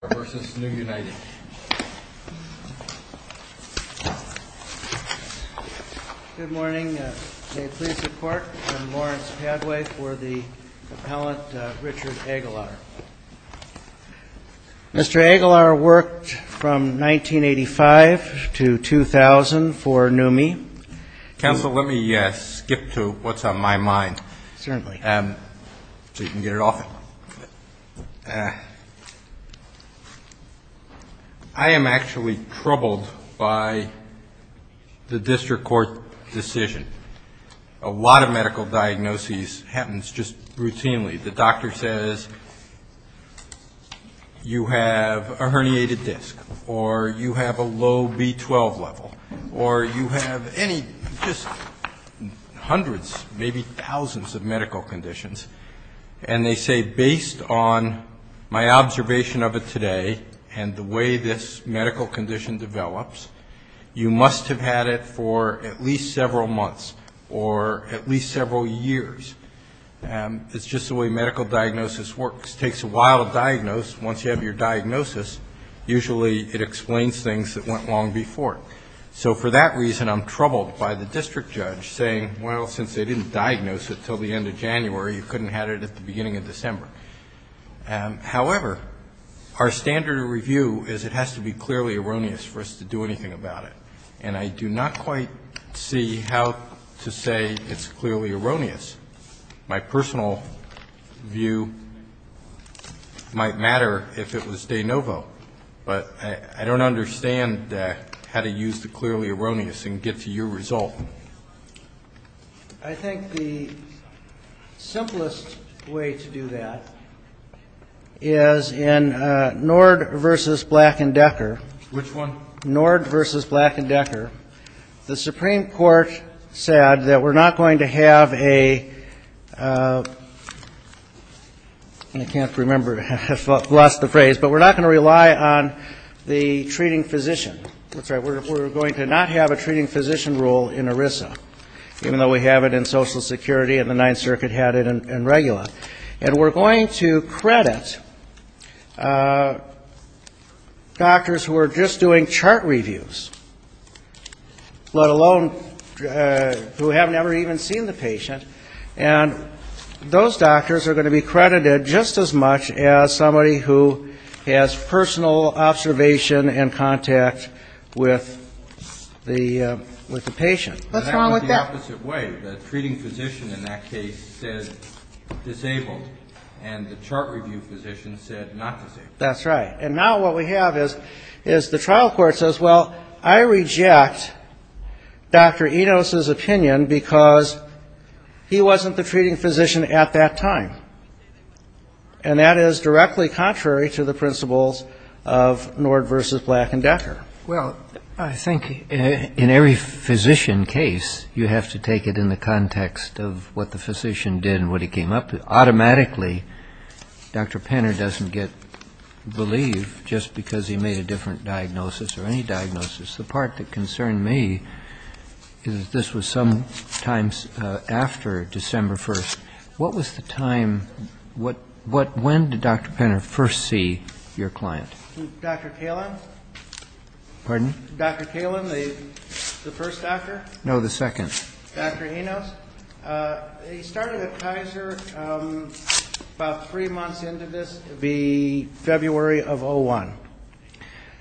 Good morning. May it please the Court, I'm Lawrence Padway for the appellant Richard Aguilar. Mr. Aguilar worked from 1985 to 2000 for NUMMI. Counsel, let me skip to what's on my mind so you can get it off. I am actually troubled by the district court decision. A lot of medical diagnoses happens just routinely. The doctor says you have a herniated disc or you have a low B12 level or you have any, just hundreds, maybe thousands of medical conditions. And they say based on my observation of it today and the way this medical condition develops, you must have had it for at least several months or at least several years. It's just the way medical diagnosis works. It takes a while to diagnose. Once you have your diagnosis, usually it explains things that went long before. So for that reason, I'm troubled by the district judge saying, well, since they didn't diagnose it until the end of January, you couldn't have had it at the beginning of December. However, our standard of review is it has to be clearly erroneous for us to do anything about it. And I do not quite see how to say it's clearly erroneous. My personal view might matter if it was de novo, but I don't understand how to use the clearly erroneous and get to your result. I think the simplest way to do that is in Nord v. Black and Decker. Which one? Nord v. Black and Decker. The Supreme Court said that we're not going to have a ‑‑ I can't remember if I've lost the phrase, but we're not going to rely on the treating physician. We're going to not have a treating physician role in ERISA, even though we have it in Social Security and the Ninth Circuit had it in REGULA. And we're going to credit doctors who are just doing chart reviews, let alone who have never even seen the patient. And those doctors are going to be credited just as much as somebody who has personal observation and contact with the patient. What's wrong with that? That's the opposite way. The treating physician in that case said disabled, and the chart review physician said not disabled. That's right. And now what we have is the trial court says, well, I reject Dr. Enos's opinion because he wasn't the treating physician at that time. And that is directly contrary to the principles of Nord v. Black and Decker. Well, I think in every physician case, you have to take it in the context of what the physician did and what he came up with. Automatically, Dr. Penner doesn't get believed just because he made a different diagnosis or any diagnosis. The part that concerned me is that this was some time after December 1st. What was the time, when did Dr. Penner first see your client? Dr. Kalin? Pardon? Dr. Kalin, the first doctor? No, the second. Dr. Enos, he started at Kaiser about three months into this, the February of 01.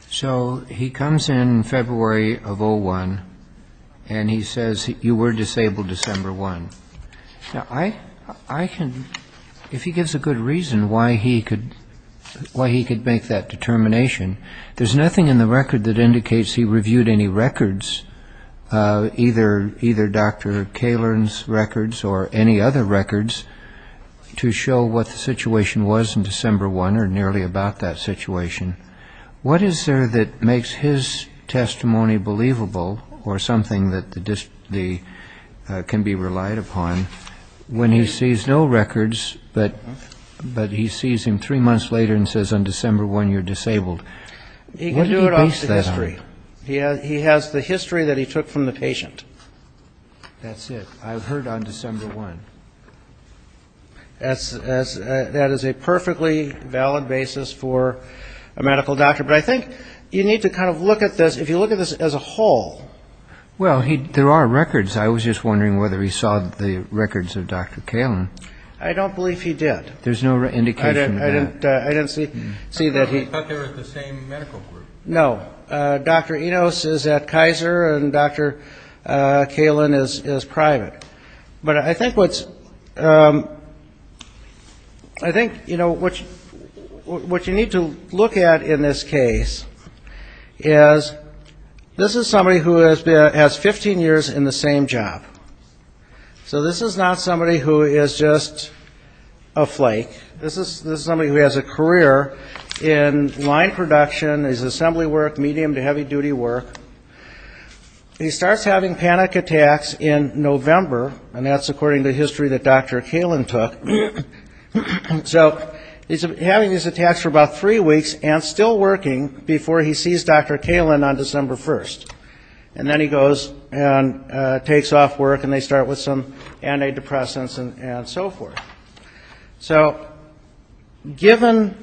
So, he comes in February of 01, and he says, you were disabled December 1. Now, I can, if he gives a good reason why he could make that determination, there's nothing in the Dr. Kalin's records or any other records to show what the situation was in December 1 or nearly about that situation. What is there that makes his testimony believable or something that can be relied upon when he sees no records, but he sees him three months later and says, on December 1, you're disabled? He can do it off the history. He has the history that he took from the patient. That's it. I've heard on December 1. That is a perfectly valid basis for a medical doctor, but I think you need to kind of look at this, if you look at this as a whole. Well, there are records. I was just wondering whether he saw the records of Dr. Kalin. I don't believe he did. There's no indication of that. I didn't see that he... I thought they were the same medical group. No. Dr. Enos is at Kaiser and Dr. Kalin is private. But I think what's, I think, you know, what you need to look at in this case is this is somebody who has 15 years in the same job. So this is not somebody who is just a flake. This is somebody who has a career in line production, is assembly work, medium to heavy duty work. He starts having panic attacks in November, and that's according to history that Dr. Kalin took. So he's having these attacks for about three weeks and still working before he sees Dr. Kalin on December 1. And then he goes and takes off work and they start with some antidepressants and so forth. So given,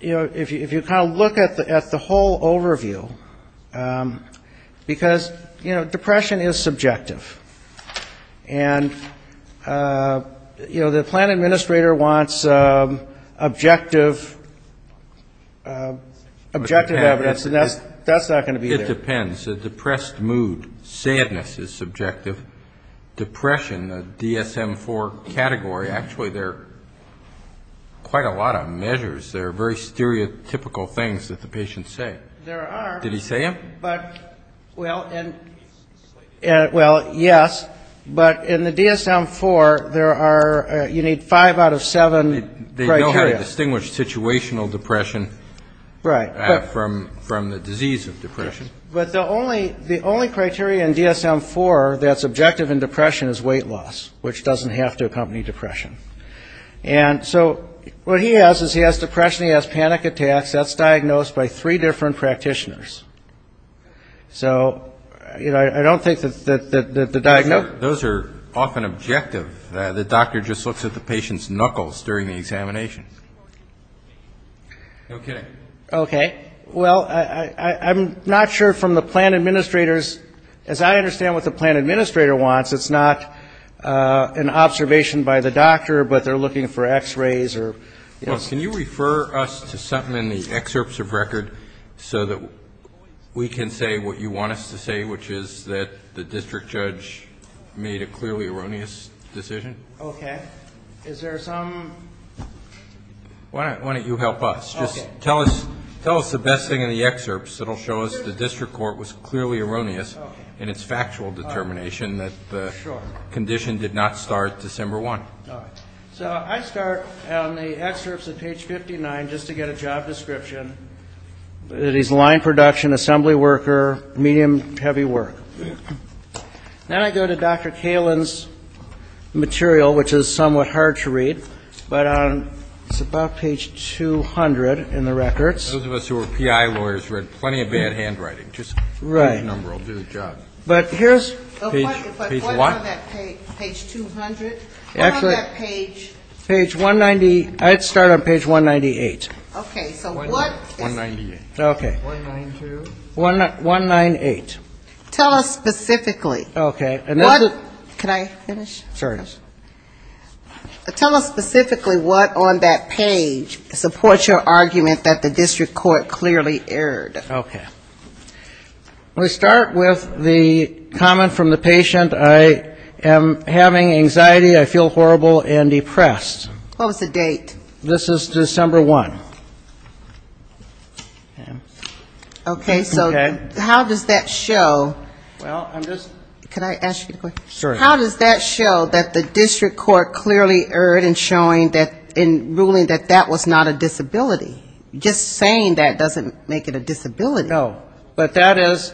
you know, if you kind of look at the whole overview, because, you know, depression is subjective. And, you know, the plan administrator wants objective evidence, and that's not going to be there. Well, it depends. A depressed mood, sadness is subjective. Depression, the DSM-IV category, actually there are quite a lot of measures. There are very stereotypical things that the patients say. There are. Did he say them? Well, yes. But in the DSM-IV, there are, you need five out of seven criteria. They know how to distinguish situational depression from the disease of depression. But the only criteria in DSM-IV that's objective in depression is weight loss, which doesn't have to accompany depression. And so what he has is he has depression, he has panic attacks. That's diagnosed by three different practitioners. So, you know, I don't think that the diagnosis... Those are often objective. The doctor just looks at the patient's knuckles during the examination. Okay. Okay. Well, I'm not sure from the plan administrator's, as I understand what the plan administrator wants, it's not an observation by the doctor, but they're looking for x-rays or... Well, can you refer us to something in the excerpts of record so that we can say what you want us to say, which is that the district judge made a clearly erroneous decision? Okay. Is there some... Why don't you help us? Okay. Just tell us the best thing in the excerpts that will show us the district court was clearly erroneous in its factual determination that the condition did not start December 1. All right. So I start on the excerpts at page 59 just to get a job description. It is line production, assembly worker, medium-heavy work. Then I go to Dr. Kalin's material, which is somewhat hard to read, but it's about page 200 in the records. Those of us who are PI lawyers read plenty of bad handwriting. Right. Just give me the number. I'll do the job. But here's... Page what? If I start on that page 200, what is that page? Page 190. I'd start on page 198. Okay. So what... 198. Okay. 192. 198. Tell us specifically. Okay. What... Can I finish? Sure. Tell us specifically what on that page supports your argument that the district court clearly erred. Okay. We start with the comment from the patient, I am having anxiety, I feel horrible and depressed. What was the date? This is December 1. Okay. Okay. So how does that show... Well, I'm just... Could I ask you a question? Sure. How does that show that the district court clearly erred in ruling that that was not a disability? Just saying that doesn't make it a disability. No. But that is...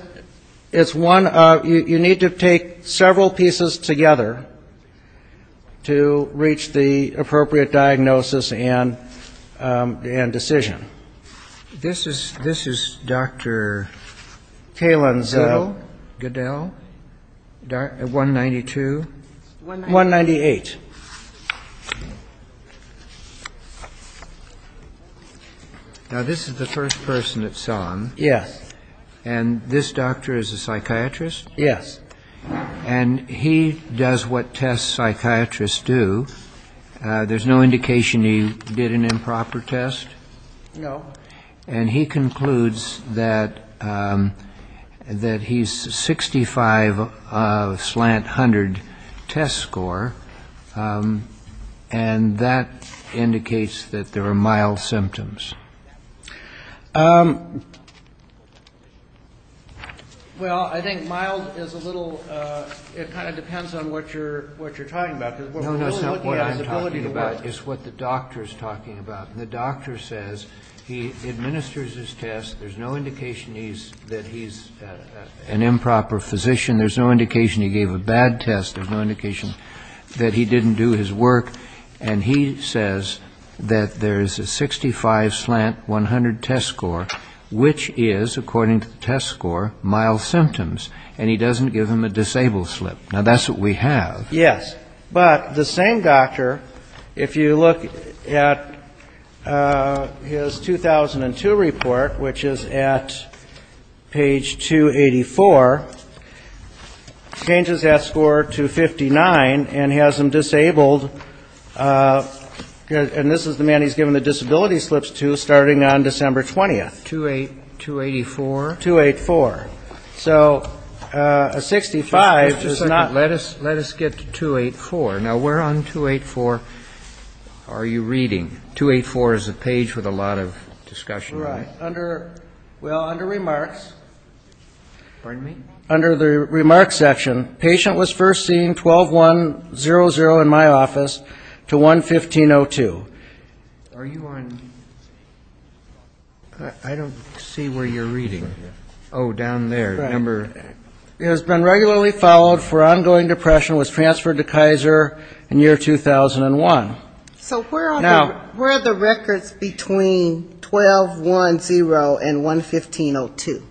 It's one of... You need to take several pieces together to reach the appropriate diagnosis and decision. This is Dr. Kalin's... Goodell. Goodell. 192? 198. Now, this is the first person that's on. Yes. And this doctor is a psychiatrist? Yes. And he does what test psychiatrists do. There's no indication he did an improper test? No. And he concludes that he's 65 slant 100 test score, and that indicates that there are mild symptoms. Well, I think mild is a little... It kind of depends on what you're talking about. No, no. It's not what I'm talking about. It's what the doctor's talking about. And the doctor says he administers his test. There's no indication that he's an improper physician. There's no indication he gave a bad test. There's no indication that he didn't do his work. And he says that there's a 65 slant 100 test score, which is, according to the test score, mild symptoms. And he doesn't give him a disabled slip. Now, that's what we have. Yes. But the same doctor, if you look at his 2002 report, which is at page 284, changes that score to 59 and has him disabled. And this is the man he's given the disability slips to starting on December 20th. 284? 284. So a 65 does not... Let us get to 284. Now, where on 284 are you reading? 284 is a page with a lot of discussion. Right. Well, under Remarks... Pardon me? Under the Remarks section, patient was first seen 12-1-0-0 in my office to 1-15-02. Are you on... I don't see where you're reading. Oh, down there. It has been regularly followed for ongoing depression, was transferred to Kaiser in year 2001. So where are the records between 12-1-0 and 1-15-02?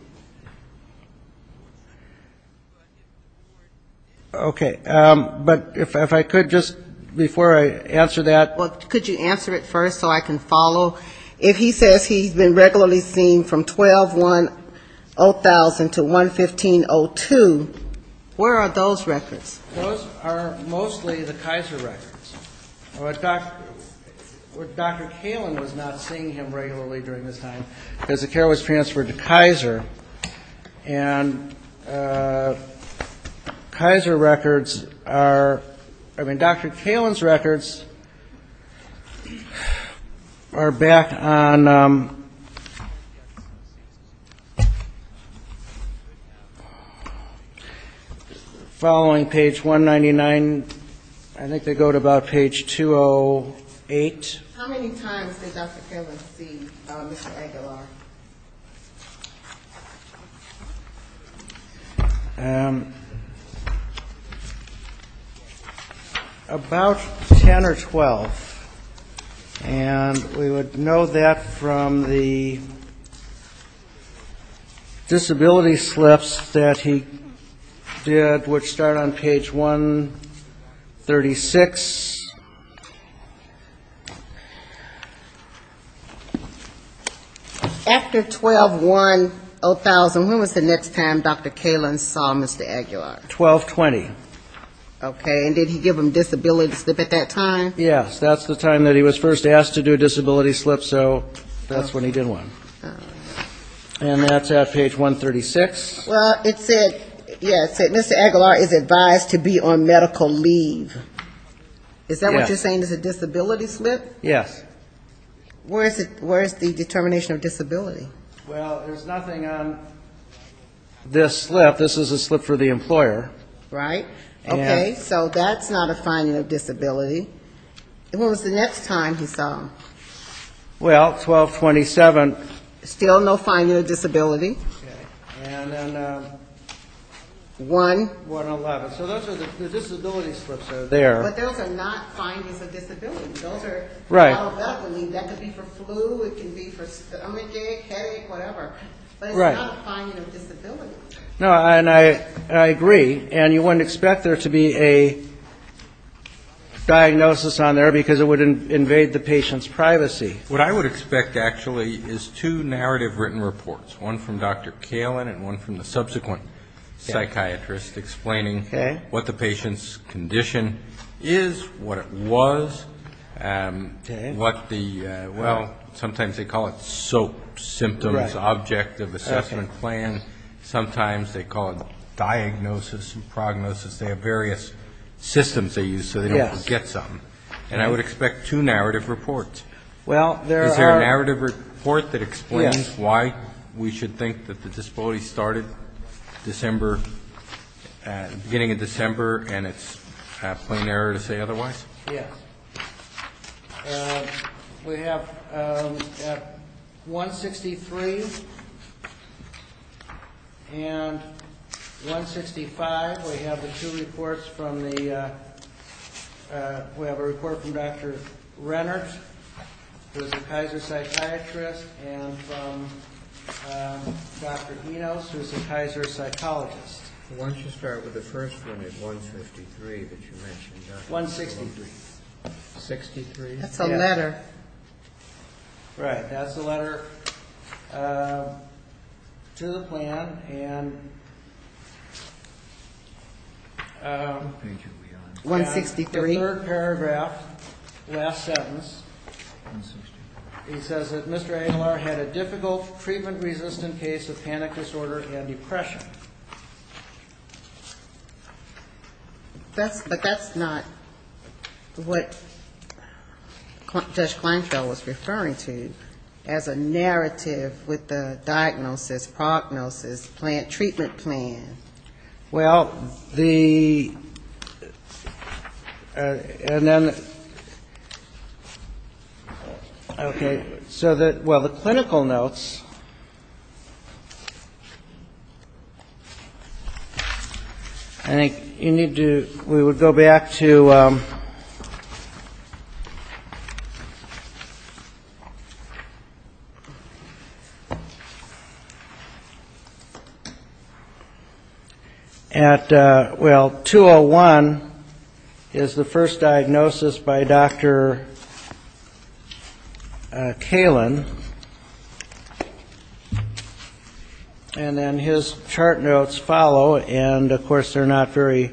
Okay. But if I could just, before I answer that... Well, could you answer it first so I can follow? So if he says he's been regularly seen from 12-1-0-0 to 1-15-02, where are those records? Those are mostly the Kaiser records. Dr. Kaelin was not seeing him regularly during this time because the care was transferred to Kaiser. And Kaiser records are, I mean, Dr. Kaelin's records are back on... Following page 199, I think they go to about page 208. How many times did Dr. Kaelin see Mr. Aguilar? About 10 or 12. And we would know that from the disability slips that he did, which start on page 136. After 12-1-0-0, when was the next time Dr. Kaelin saw Mr. Aguilar? 12-20. Okay. And did he give him a disability slip at that time? Yes, that's the time that he was first asked to do a disability slip, so that's when he did one. And that's at page 136. Well, it said, yeah, it said, Mr. Aguilar is advised to be on medical leave. Is that what you're saying is a disability slip? Yes. Where is the determination of disability? Well, there's nothing on this slip. This is a slip for the employer. Right. Okay. So that's not a finding of disability. And when was the next time he saw him? Well, 12-27. Still no finding of disability. Okay. And then 1-11. So those are the disability slips that are there. But those are not findings of disability. Those are held up. I mean, that could be for flu, it could be for stomachache, headache, whatever. But it's not a finding of disability. No, and I agree. And you wouldn't expect there to be a diagnosis on there because it would invade the patient's privacy. What I would expect, actually, is two narrative written reports, one from Dr. Kalin and one from the subsequent psychiatrist explaining what the patient's condition is, what it was, what the, well, sometimes they call it SOAP symptoms, Objective Assessment Plan. Sometimes they call it diagnosis and prognosis. They have various systems they use so they don't forget something. And I would expect two narrative reports. Is there a narrative report that explains why we should think that the disability started December, beginning of December, and it's a plain error to say otherwise? Yes. We have 163 and 165. We have the two reports from the, we have a report from Dr. Rennert, who's a Kaiser psychiatrist, and from Dr. Enos, who's a Kaiser psychologist. Why don't you start with the first one at 153 that you mentioned? 163. 163. That's a letter. Right. That's a letter to the plan and... 163. The third paragraph, last sentence, it says that Mr. Engelar had a difficult, treatment-resistant case of panic disorder and depression. But that's not what Judge Kleinfeld was referring to as a narrative with the diagnosis, prognosis, treatment plan. Well, the, and then, okay. So that, well, the clinical notes, I think you need to, we would go back to... And that, well, 201 is the first diagnosis by Dr. Kalin. And then his chart notes follow, and, of course, they're not very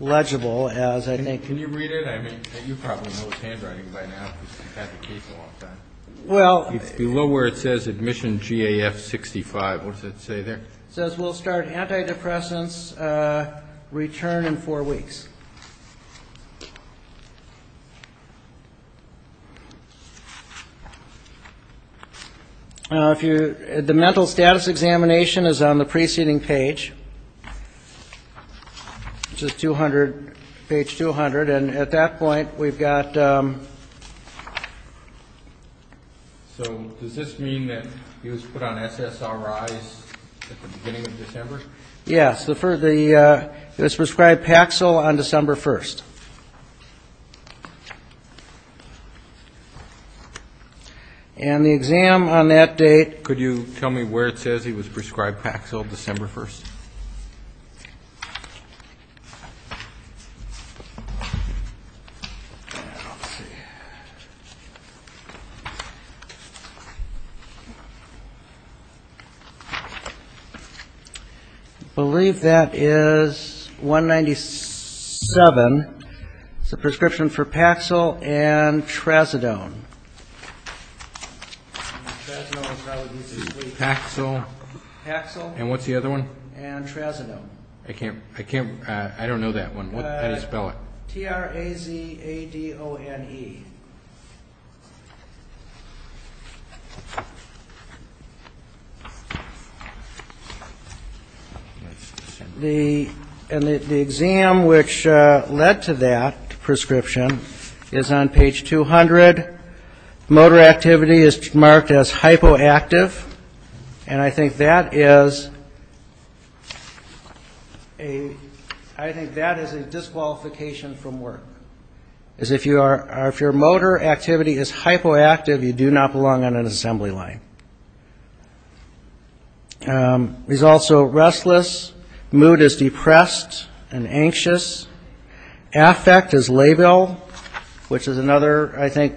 legible, as I think... Can you read it? I mean, you probably know his handwriting by now because you've had the case a long time. Well... It's below where it says admission GAF 65. What does it say there? It says we'll start antidepressants return in four weeks. Now, if you, the mental status examination is on the preceding page, which is 200, page 200. And at that point, we've got... So does this mean that he was put on SSRIs at the beginning of December? Yes. It was prescribed Paxil on December 1st. And the exam on that date... Could you tell me where it says he was prescribed Paxil December 1st? Let's see. I believe that is 197. It's a prescription for Paxil and Trazodone. Paxil. Paxil. And what's the other one? And Trazodone. I can't... I don't know that one. How do you spell it? T-R-A-Z-A-D-O-N-E. And the exam which led to that prescription is on page 200. Motor activity is marked as hypoactive. And I think that is a disqualification from work. If your motor activity is hypoactive, you do not belong on an assembly line. He's also restless. Mood is depressed and anxious. Affect is labile, which is another, I think,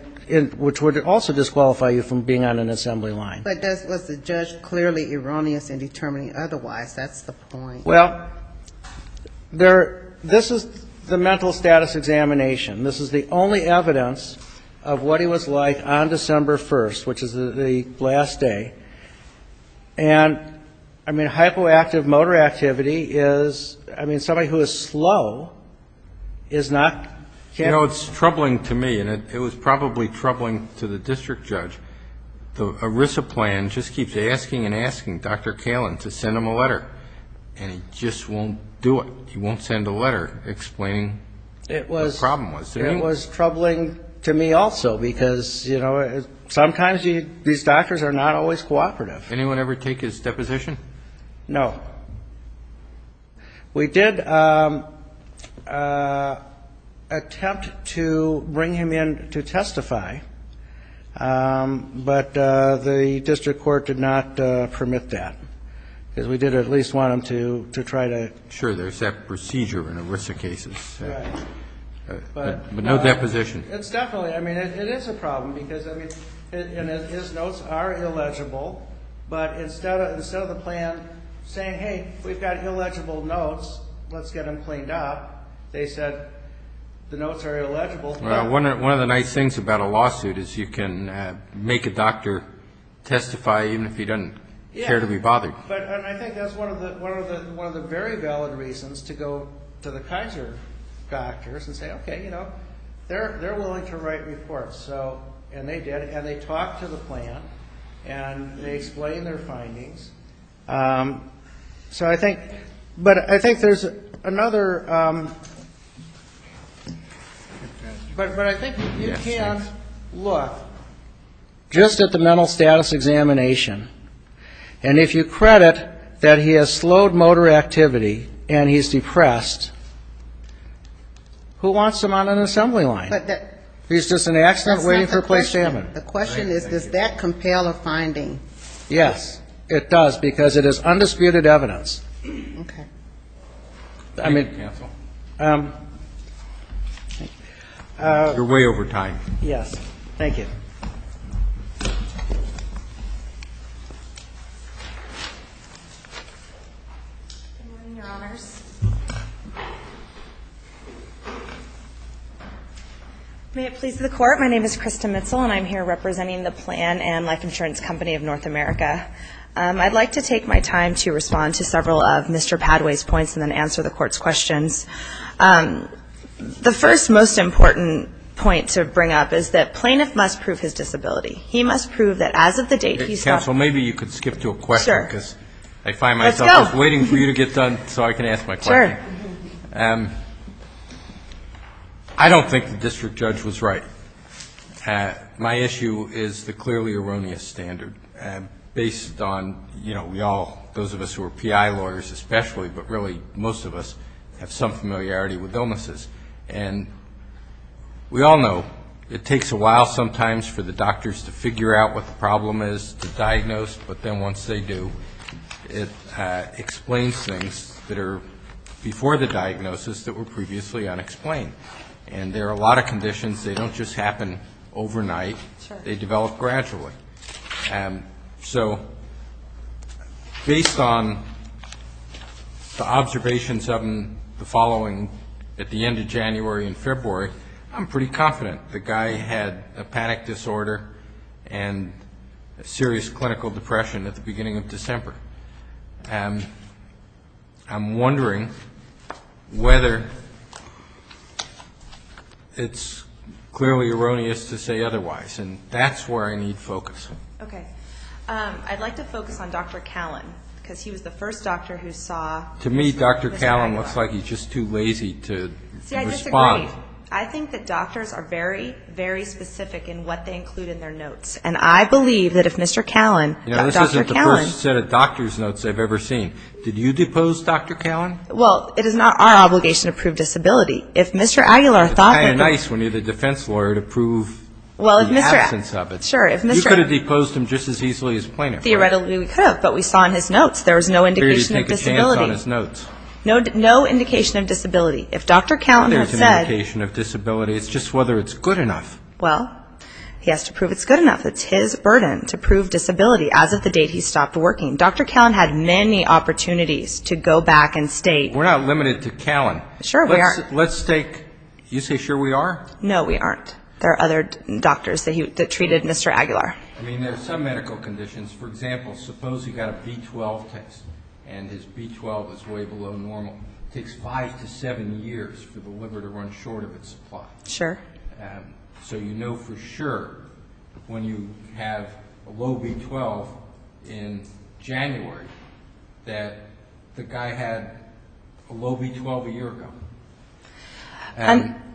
which would also disqualify you from being on an assembly line. But was the judge clearly erroneous in determining otherwise? That's the point. Well, this is the mental status examination. This is the only evidence of what he was like on December 1st, which is the last day. And, I mean, hypoactive motor activity is... is not... You know, it's troubling to me, and it was probably troubling to the district judge. The ERISA plan just keeps asking and asking Dr. Kalin to send him a letter. And he just won't do it. He won't send a letter explaining what the problem was. It was troubling to me also because, you know, sometimes these doctors are not always cooperative. Anyone ever take his deposition? No. We did attempt to bring him in to testify, but the district court did not permit that. Because we did at least want him to try to... Sure, there's that procedure in ERISA cases. Right. But no deposition. It's definitely... I mean, it is a problem because, I mean, his notes are illegible, but instead of the plan saying, hey, we've got illegible notes, let's get them cleaned up, they said the notes are illegible. Well, one of the nice things about a lawsuit is you can make a doctor testify even if he doesn't care to be bothered. Yeah. And I think that's one of the very valid reasons to go to the Kaiser doctors and say, okay, you know, they're willing to write reports. And they did, and they talked to the plan. And they explained their findings. So I think... But I think there's another... But I think you can look just at the mental status examination. And if you credit that he has slowed motor activity and he's depressed, who wants him on an assembly line? He's just an accident waiting for a place to happen. The question is, does that compel a finding? Yes, it does, because it is undisputed evidence. Okay. Cancel. You're way over time. Yes. Thank you. Good morning, Your Honors. May it please the Court. My name is Krista Mitzel. And I'm here representing the Plan and Life Insurance Company of North America. I'd like to take my time to respond to several of Mr. Padway's points and then answer the Court's questions. The first most important point to bring up is that plaintiff must prove his disability. He must prove that as of the date he's got... Counsel, maybe you could skip to a question. Sure. Because I find myself just waiting for you to get done so I can ask my question. Sure. I don't think the district judge was right. My issue is the clearly erroneous standard based on, you know, we all, those of us who are PI lawyers especially, but really most of us have some familiarity with illnesses. And we all know it takes a while sometimes for the doctors to figure out what the problem is to diagnose, but then once they do, it explains things that are before the diagnosis that were previously unexplained. And there are a lot of conditions. They don't just happen overnight. Sure. They develop gradually. So based on the observations of the following at the end of January and February, I'm pretty confident the guy had a panic disorder and a serious clinical depression at the beginning of December. I'm wondering whether it's clearly erroneous to say otherwise. And that's where I need focus. Okay. I'd like to focus on Dr. Callan because he was the first doctor who saw... To me, Dr. Callan looks like he's just too lazy to respond. See, I disagree. Right. I think that doctors are very, very specific in what they include in their notes. And I believe that if Mr. Callan... You know, this isn't the first set of doctor's notes I've ever seen. Did you depose Dr. Callan? Well, it is not our obligation to prove disability. If Mr. Aguilar thought... It's kind of nice when you're the defense lawyer to prove the absence of it. Sure. You could have deposed him just as easily as plaintiff, right? Theoretically, we could have, but we saw in his notes there was no indication of disability. No indication of disability. If Dr. Callan had said... There's no indication of disability. It's just whether it's good enough. Well, he has to prove it's good enough. It's his burden to prove disability as of the date he stopped working. Dr. Callan had many opportunities to go back and state... We're not limited to Callan. Sure, we aren't. Let's take... You say sure we are? No, we aren't. There are other doctors that treated Mr. Aguilar. I mean, there are some medical conditions. For example, suppose he got a B12 test and his B12 is way below normal. It takes five to seven years for the liver to run short of its supply. Sure. So you know for sure when you have a low B12 in January that the guy had a low B12 a year ago.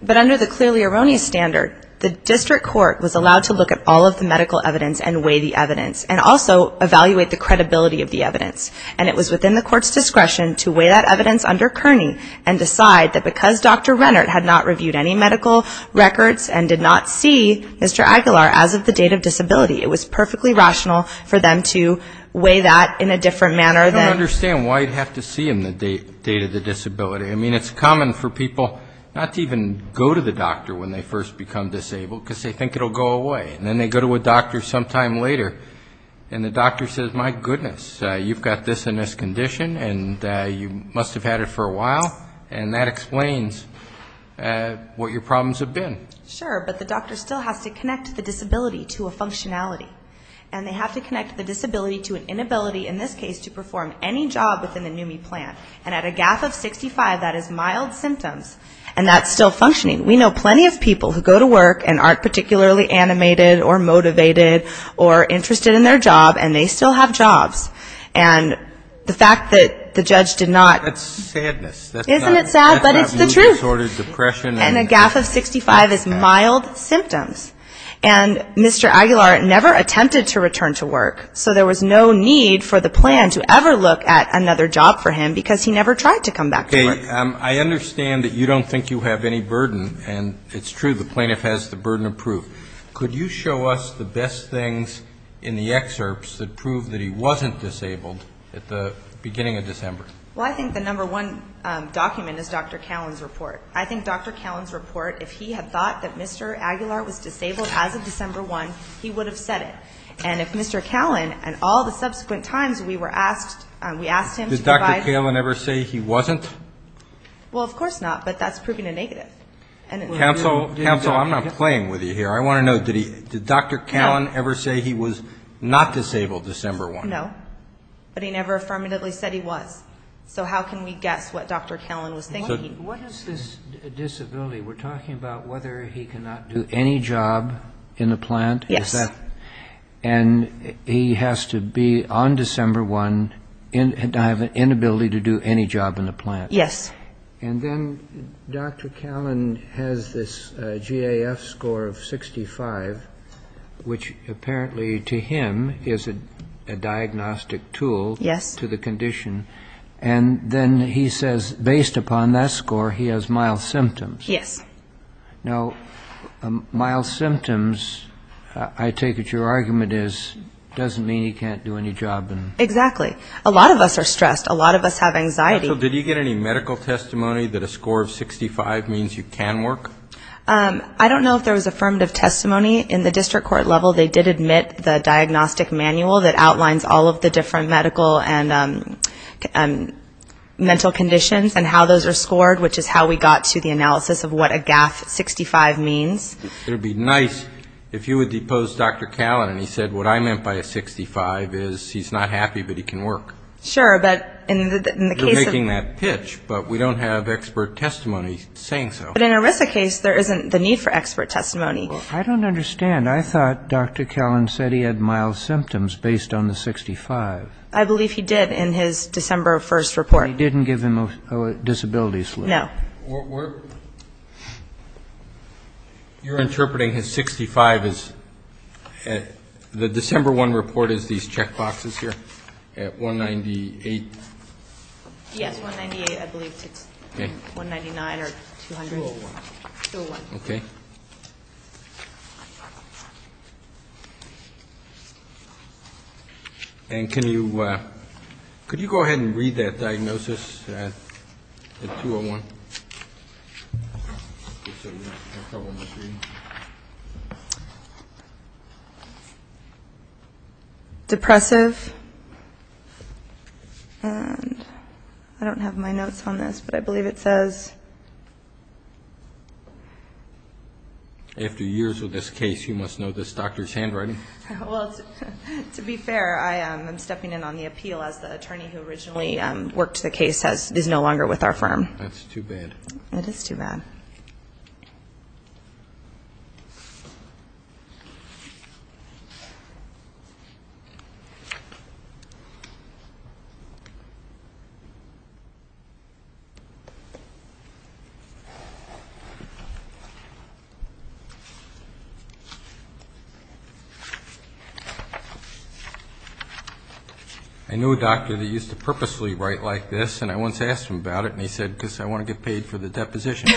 But under the clearly erroneous standard, the district court was allowed to look at all of the medical evidence and weigh the evidence and also evaluate the credibility of the evidence. And it was within the court's discretion to weigh that evidence under Kearney and decide that because Dr. Rennert had not reviewed any medical records and did not see Mr. Aguilar as of the date of disability, it was perfectly rational for them to weigh that in a different manner than... I don't understand why you'd have to see him the date of the disability. I mean, it's common for people not to even go to the doctor when they first become disabled because they think it will go away. And then they go to a doctor sometime later and the doctor says, my goodness, you've got this and this condition and you must have had it for a while. And that explains what your problems have been. Sure. But the doctor still has to connect the disability to a functionality. And they have to connect the disability to an inability, in this case, to perform any job within the NUMMI plan. And at a GAF of 65, that is mild symptoms. And that's still functioning. We know plenty of people who go to work and aren't particularly animated or motivated or interested in their job and they still have jobs. And the fact that the judge did not... That's sadness. Isn't it sad? But it's the truth. That's not mood disordered depression. And a GAF of 65 is mild symptoms. And Mr. Aguilar never attempted to return to work. So there was no need for the plan to ever look at another job for him because he never tried to come back to work. Okay. I understand that you don't think you have any burden. And it's true, the plaintiff has the burden of proof. Could you show us the best things in the excerpts that prove that he wasn't disabled at the beginning of December? Well, I think the number one document is Dr. Callen's report. I think Dr. Callen's report, if he had thought that Mr. Aguilar was disabled as of December 1, he would have said it. And if Mr. Callen and all the subsequent times we were asked, we asked him to provide... Did Dr. Callen ever say he wasn't? Well, of course not. But that's proving a negative. Counsel, counsel, I'm not playing with you here. I want to know, did Dr. Callen ever say he was not disabled December 1? No. But he never affirmatively said he was. So how can we guess what Dr. Callen was thinking? What is this disability? We're talking about whether he cannot do any job in the plant. Yes. And he has to be on December 1 and have an inability to do any job in the plant. Yes. And then Dr. Callen has this GAF score of 65, which apparently to him is a diagnostic tool to the condition. Yes. And then he says, based upon that score, he has mild symptoms. Yes. Now, mild symptoms, I take it your argument is, doesn't mean he can't do any job in... Exactly. A lot of us are stressed. A lot of us have anxiety. Counsel, did he get any medical testimony that a score of 65 means you can work? I don't know if there was affirmative testimony. In the district court level, they did admit the diagnostic manual that outlines all of the different medical and mental conditions and how those are scored, which is how we got to the analysis of what a GAF 65 means. It would be nice if you would depose Dr. Callen and he said what I meant by a 65 is he's not happy, but he can work. Sure. But in the case of... You're making that pitch, but we don't have expert testimony saying so. But in a RISA case, there isn't the need for expert testimony. I don't understand. I thought Dr. Callen said he had mild symptoms based on the 65. I believe he did in his December 1st report. But he didn't give them a disability slip. No. We're... You're interpreting his 65 as... The December 1 report is these check boxes here at 198? Yes, 198, I believe. Okay. 199 or 200. 201. 201. Okay. And can you... Could you go ahead and read that diagnosis at 201? Depressive. And I don't have my notes on this, but I believe it says... After years with this case, you must know this doctor's handwriting. Well, to be fair, I am stepping in on the appeal as the attorney who originally worked the case is no longer with our firm. That's too bad. It is too bad. Okay. I knew a doctor that used to purposely write like this, and I once asked him about it, and he said, because I want to get paid for the deposition.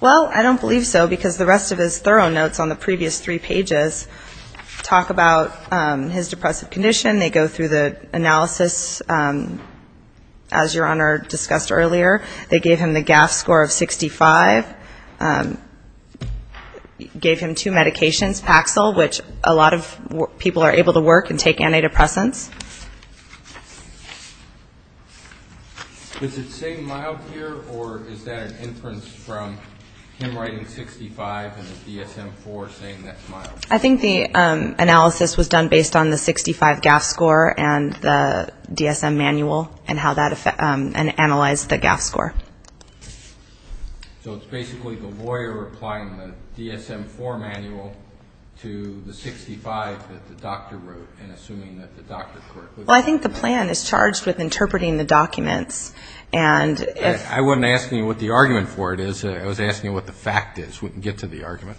Well, I don't believe so, because the rest of his thorough notes on the previous three pages talk about his depressive condition. They go through the analysis, as Your Honor discussed earlier. They gave him the GAF score of 65. Gave him two medications, Paxil, which a lot of people are able to work and take antidepressants. Is it saying mild here, or is that an inference from him writing 65 and the DSM-IV saying that's mild? I think the analysis was done based on the 65 GAF score and the DSM manual and how that analyzed the GAF score. So it's basically the lawyer applying the DSM-IV manual to the 65 that the doctor wrote Well, I think the plan is charged with interpreting the documents. I wasn't asking you what the argument for it is. I was asking you what the fact is. We can get to the argument.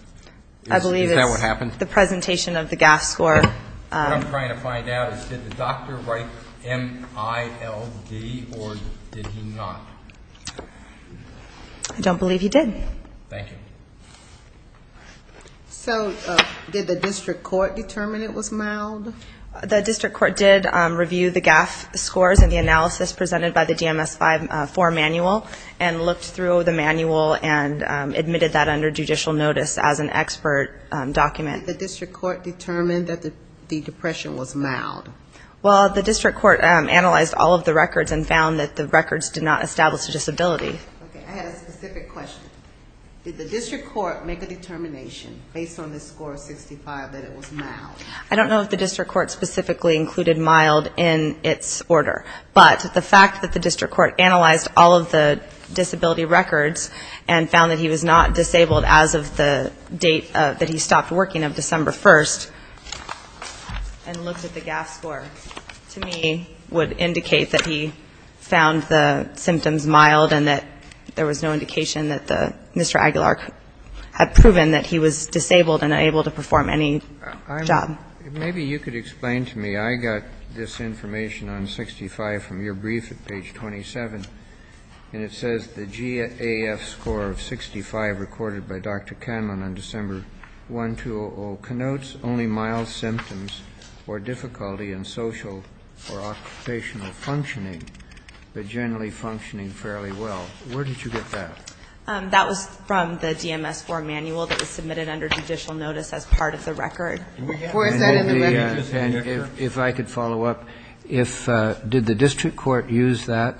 Is that what happened? I believe it's the presentation of the GAF score. What I'm trying to find out is did the doctor write M-I-L-D, or did he not? I don't believe he did. Thank you. So did the district court determine it was mild? The district court did review the GAF scores and the analysis presented by the DMS-IV manual and looked through the manual and admitted that under judicial notice as an expert document. Did the district court determine that the depression was mild? Well, the district court analyzed all of the records and found that the records did not establish a disability. Okay. I had a specific question. Did the district court make a determination based on the score of 65 that it was mild? I don't know if the district court specifically included mild in its order, but the fact that the district court analyzed all of the disability records and found that he was not disabled as of the date that he stopped working of December 1st and looked at the GAF score, to me, would indicate that he found the symptoms mild and that there was no indication that Mr. Aguilar had proven that he was disabled and unable to perform any job. Maybe you could explain to me. I got this information on 65 from your brief at page 27, and it says the GAF score of 65 recorded by Dr. Canlon on December 1, 2000, connotes only mild symptoms or difficulty in social or occupational functioning, but generally functioning fairly well. Where did you get that? That was from the DMS form manual that was submitted under judicial notice as part of the record. And if I could follow up, did the district court use that?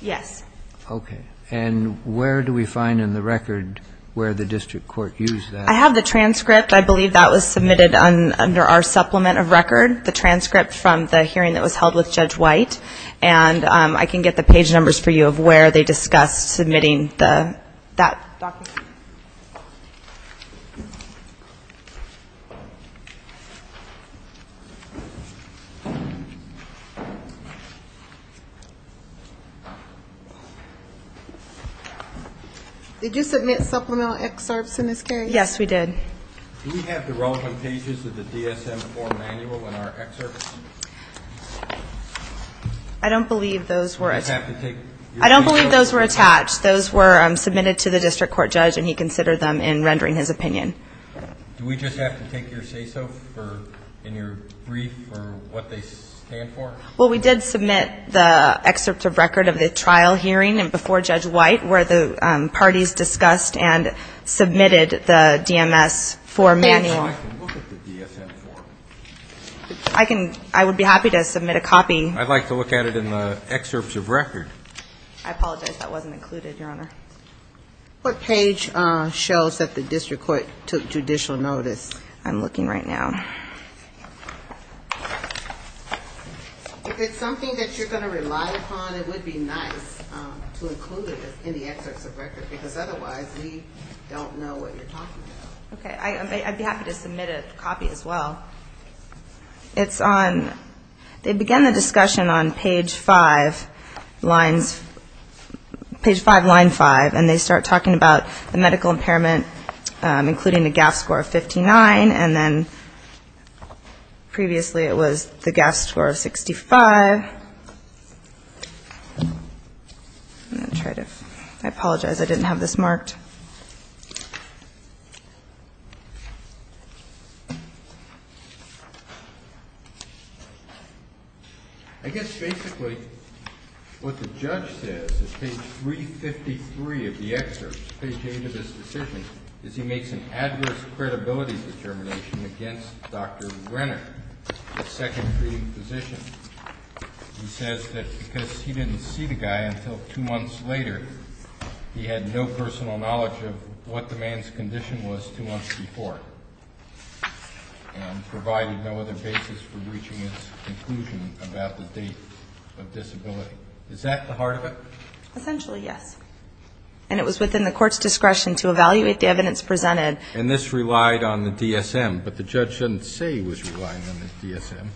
Yes. Okay. And where do we find in the record where the district court used that? I have the transcript. I believe that was submitted under our supplement of record, the transcript from the hearing that was held with Judge White. And I can get the page numbers for you of where they discussed submitting that document. Did you submit supplemental excerpts in this case? Yes, we did. Do we have the relevant pages of the DSM form manual in our excerpts? I don't believe those were attached. I don't believe those were attached. Those were submitted to the district court judge, and he considered them in rendering his opinion. Do we just have to take your say-so in your brief for what they stand for? Well, we did submit the excerpt of record of the trial hearing before Judge White where the parties discussed and submitted the DMS form manual. I can look at the DSM form. I would be happy to submit a copy. I'd like to look at it in the excerpts of record. I apologize. That wasn't included, Your Honor. What page shows that the district court took judicial notice? I'm looking right now. If it's something that you're going to rely upon, it would be nice to include it in the excerpts of record, because otherwise we don't know what you're talking about. Okay. I'd be happy to submit a copy as well. It's on they begin the discussion on page five lines, page five, line five, and they start talking about the medical impairment, including the GAF score of 59, and then previously it was the GAF score of 65. I'm going to try to ---- I apologize. I didn't have this marked. I guess basically what the judge says is page 353 of the excerpt, is he makes an adverse credibility determination against Dr. Renner, the second treating physician. He says that because he didn't see the guy until two months later, he had no personal knowledge of what the man's condition was two months before and provided no other basis for reaching his conclusion about the date of disability. Is that the heart of it? Essentially, yes. And it was within the court's discretion to evaluate the evidence presented. And this relied on the DSM, but the judge didn't say it was relying on the DSM.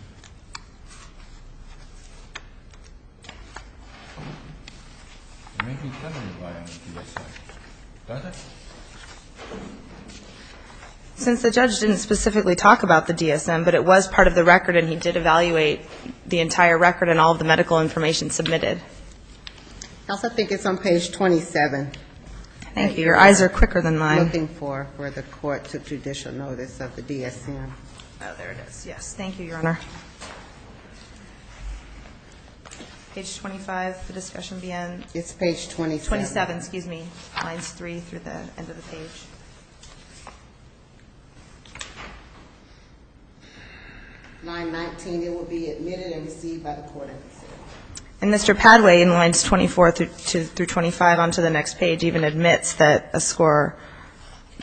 Since the judge didn't specifically talk about the DSM, but it was part of the record and he did evaluate the entire record and all of the medical information submitted. I also think it's on page 27. Thank you. Your eyes are quicker than mine. Looking for where the court took judicial notice of the DSM. Oh, there it is. Yes. Thank you, Your Honor. Page 25, the discussion will be on? It's page 27. 27, excuse me. Lines 3 through the end of the page. 919. It will be admitted and received by the court. And Mr. Padway, in lines 24 through 25 on to the next page, even admits that a score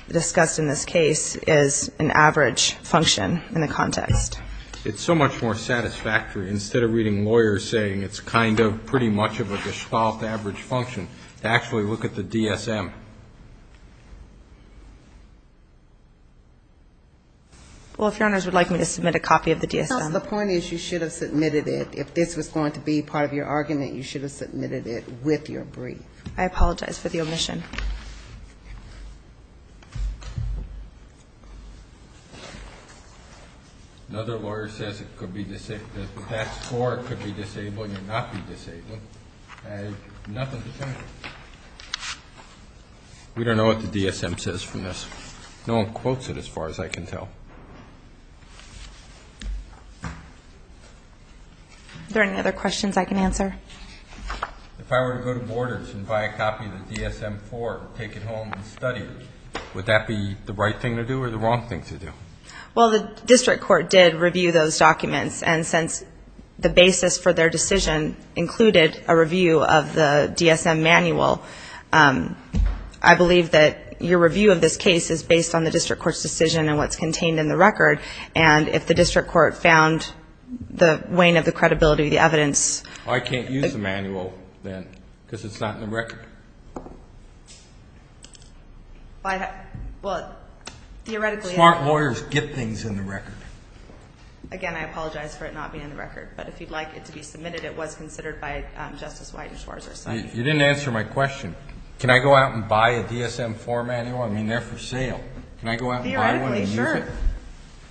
discussed in this case is an average function in the context. It's so much more satisfactory, instead of reading lawyers saying it's kind of, pretty much of a Gestalt average function, to actually look at the DSM. Well, if Your Honors would like me to submit a copy of the DSM. The point is you should have submitted it. If this was going to be part of your argument, you should have submitted it with your brief. I apologize for the omission. Another lawyer says it could be disabled. If that's the score, it could be disabled and not be disabled. I have nothing to say. We don't know what the DSM says from this. No one quotes it as far as I can tell. Are there any other questions I can answer? If I were to go to Borders and buy a copy of the DSM-IV, take it home and study it, would that be the right thing to do or the wrong thing to do? Well, the district court did review those documents, and since the basis for their decision included a review of the DSM manual, I believe that your review of this case is based on the district court's decision and what's contained in the record, and if the district court found the wane of the credibility of the evidence. Well, I can't use the manual, then, because it's not in the record. Well, theoretically I can. Smart lawyers get things in the record. Again, I apologize for it not being in the record, but if you'd like it to be submitted, it was considered by Justice White and Schwarzer. You didn't answer my question. Can I go out and buy a DSM-IV manual? I mean, they're for sale. Can I go out and buy one and use it? Theoretically, sure.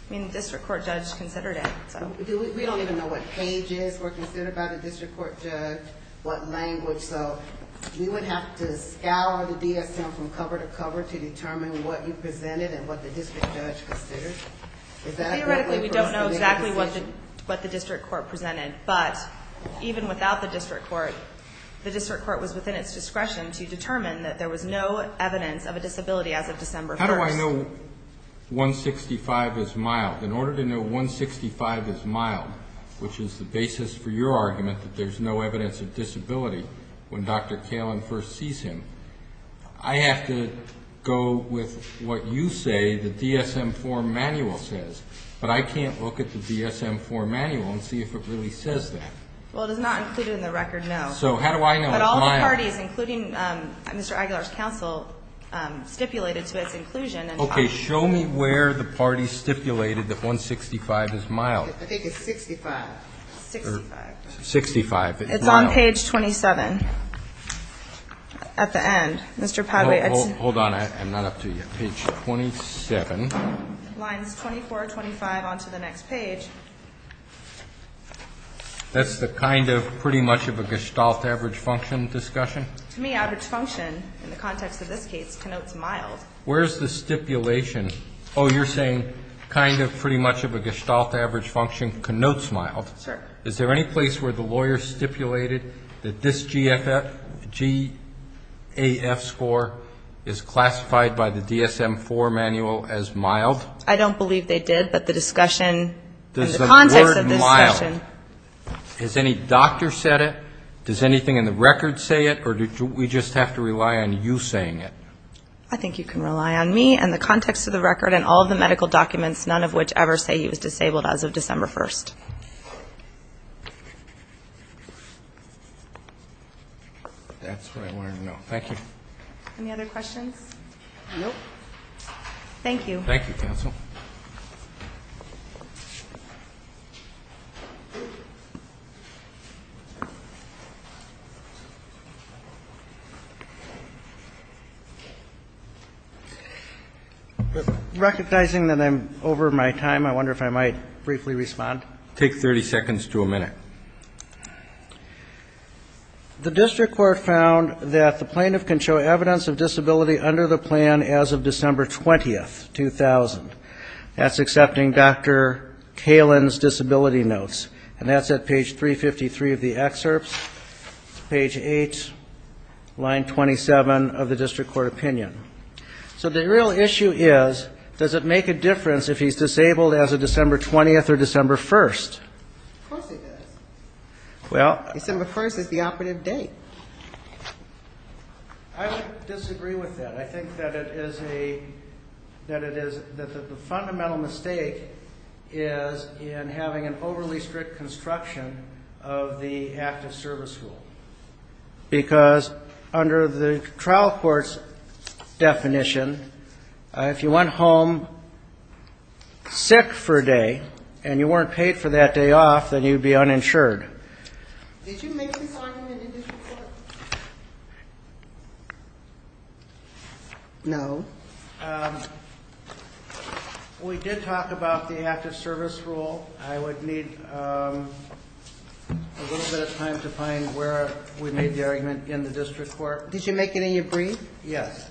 I mean, the district court judge considered it. We don't even know what pages were considered by the district court judge, what language, so you would have to scour the DSM from cover to cover to determine what you presented and what the district judge considered? Theoretically, we don't know exactly what the district court presented, but even without the district court, the district court was within its discretion to determine that there was no evidence of a disability as of December 1. How do I know 165 is mild? In order to know 165 is mild, which is the basis for your argument that there's no evidence of disability when Dr. Kalin first sees him, I have to go with what you say the DSM-IV manual says, but I can't look at the DSM-IV manual and see if it really says that. Well, it is not included in the record, no. So how do I know it's mild? But all the parties, including Mr. Aguilar's counsel, stipulated to its inclusion. Okay. Show me where the parties stipulated that 165 is mild. I think it's 65. 65. 65. It's on page 27 at the end. Hold on. I'm not up to you. Page 27. Lines 24 and 25 on to the next page. That's the kind of pretty much of a gestalt average function discussion? To me, average function, in the context of this case, connotes mild. Where's the stipulation? Oh, you're saying kind of pretty much of a gestalt average function connotes mild. Sure. Is there any place where the lawyer stipulated that this GFF, GAF score is classified by the DSM-IV manual as mild? I don't believe they did. But the discussion and the context of this discussion. Is the word mild? Has any doctor said it? Does anything in the record say it? Or do we just have to rely on you saying it? I think you can rely on me and the context of the record and all the medical documents, none of which ever say he was disabled as of December 1st. That's what I wanted to know. Thank you. Any other questions? Thank you. Thank you, counsel. Thank you. Recognizing that I'm over my time, I wonder if I might briefly respond. Take 30 seconds to a minute. The district court found that the plaintiff can show evidence of disability under the plan as of December 20th, 2000. That's accepting Dr. Kalin's disability notes. And that's at page 353 of the excerpts, page 8, line 27 of the district court opinion. So the real issue is, does it make a difference if he's disabled as of December 20th or December 1st? Of course it does. Well. December 1st is the operative date. I would disagree with that. I think that the fundamental mistake is in having an overly strict construction of the active service rule. Because under the trial court's definition, if you went home sick for a day and you weren't paid for that day off, then you'd be uninsured. Did you make this argument in the district court? No. We did talk about the active service rule. I would need a little bit of time to find where we made the argument in the district court. Did you make it in your brief? Yes.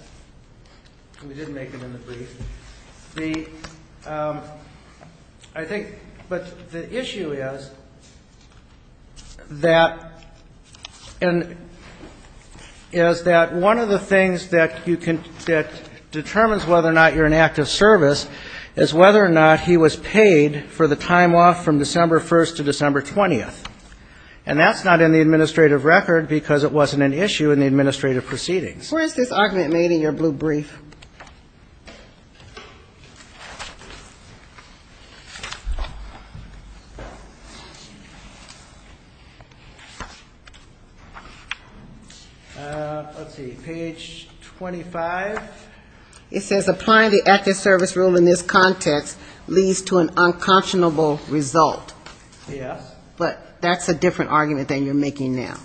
We did make it in the brief. The issue is that one of the things that determines whether or not you're in active service is whether or not he was paid for the time off from December 1st to December 20th. And that's not in the administrative record because it wasn't an issue in the administrative proceedings. Where is this argument made in your blue brief? Let's see. Page 25. It says applying the active service rule in this context leads to an unconscionable result. Yes. But that's a different argument than you're making now.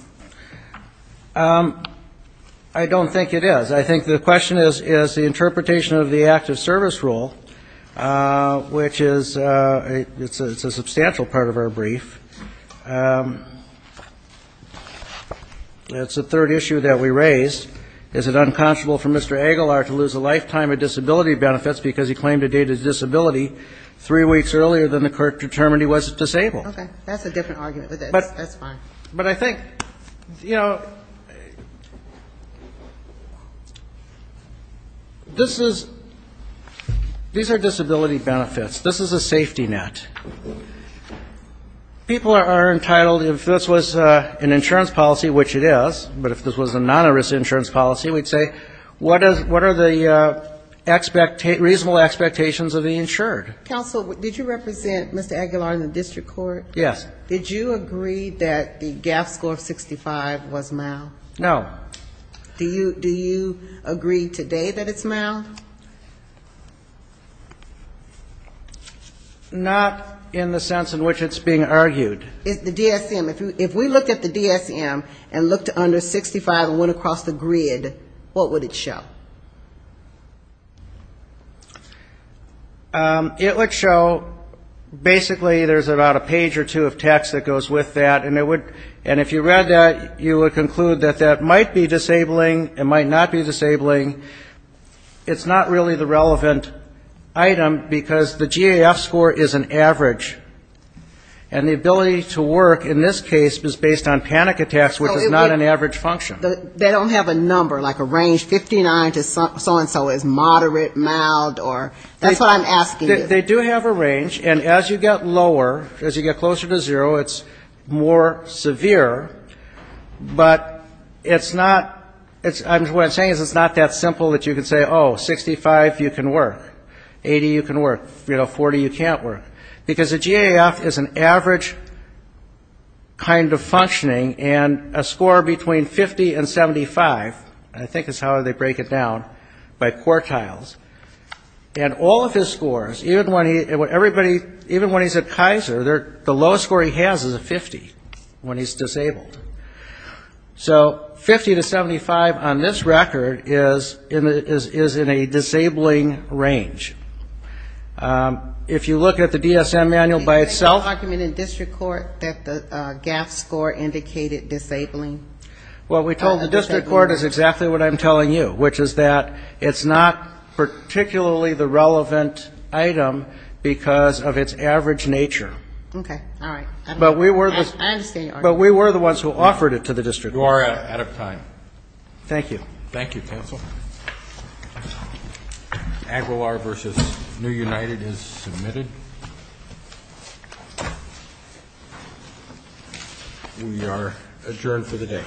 I don't think it is. I think the question is the interpretation of the active service rule, which is a substantial part of our brief. It's the third issue that we raised. Is it unconscionable for Mr. Aguilar to lose a lifetime of disability benefits because he claimed to date his disability three weeks earlier than the court determined he was disabled? Okay. That's a different argument. That's fine. But I think, you know, this is, these are disability benefits. This is a safety net. People are entitled, if this was an insurance policy, which it is, but if this was a non-insurance policy, we'd say what are the reasonable expectations of the insured? Counsel, did you represent Mr. Aguilar in the district court? Yes. Did you agree that the GAF score of 65 was mild? No. Do you agree today that it's mild? Not in the sense in which it's being argued. The DSM. If we looked at the DSM and looked under 65 and went across the grid, what would it show? It would show basically there's about a page or two of text that goes with that, and it would, and if you read that, you would conclude that that might be disabling, it might not be disabling. It's not really the relevant item, because the GAF score is an average. And the ability to work in this case is based on panic attacks, which is not an average function. They don't have a number, like a range, 59 to so-and-so is moderate, mild, or, that's what I'm asking you. They do have a range, and as you get lower, as you get closer to zero, it's more severe, but it's not, what I'm saying is it's not that simple that you can say, oh, 65, you can work, 80, you can work, you know, 40, you can't work, because the GAF is an average kind of functioning, and a score between 50 and 60 is not disabling. So, 50 to 75, I think is how they break it down, by quartiles, and all of his scores, even when he's at Kaiser, the lowest score he has is a 50 when he's disabled. So, 50 to 75 on this record is in a disabling range. If you look at the DSM manual by itself. There's no argument in district court that the GAF score indicated disabling. Well, we told the district court is exactly what I'm telling you, which is that it's not particularly the relevant item because of its average nature. Okay. All right. But we were the ones who offered it to the district court. You are out of time. Thank you. Thank you, counsel. Aguilar v. New United is submitted. We are adjourned for the day. Thank you.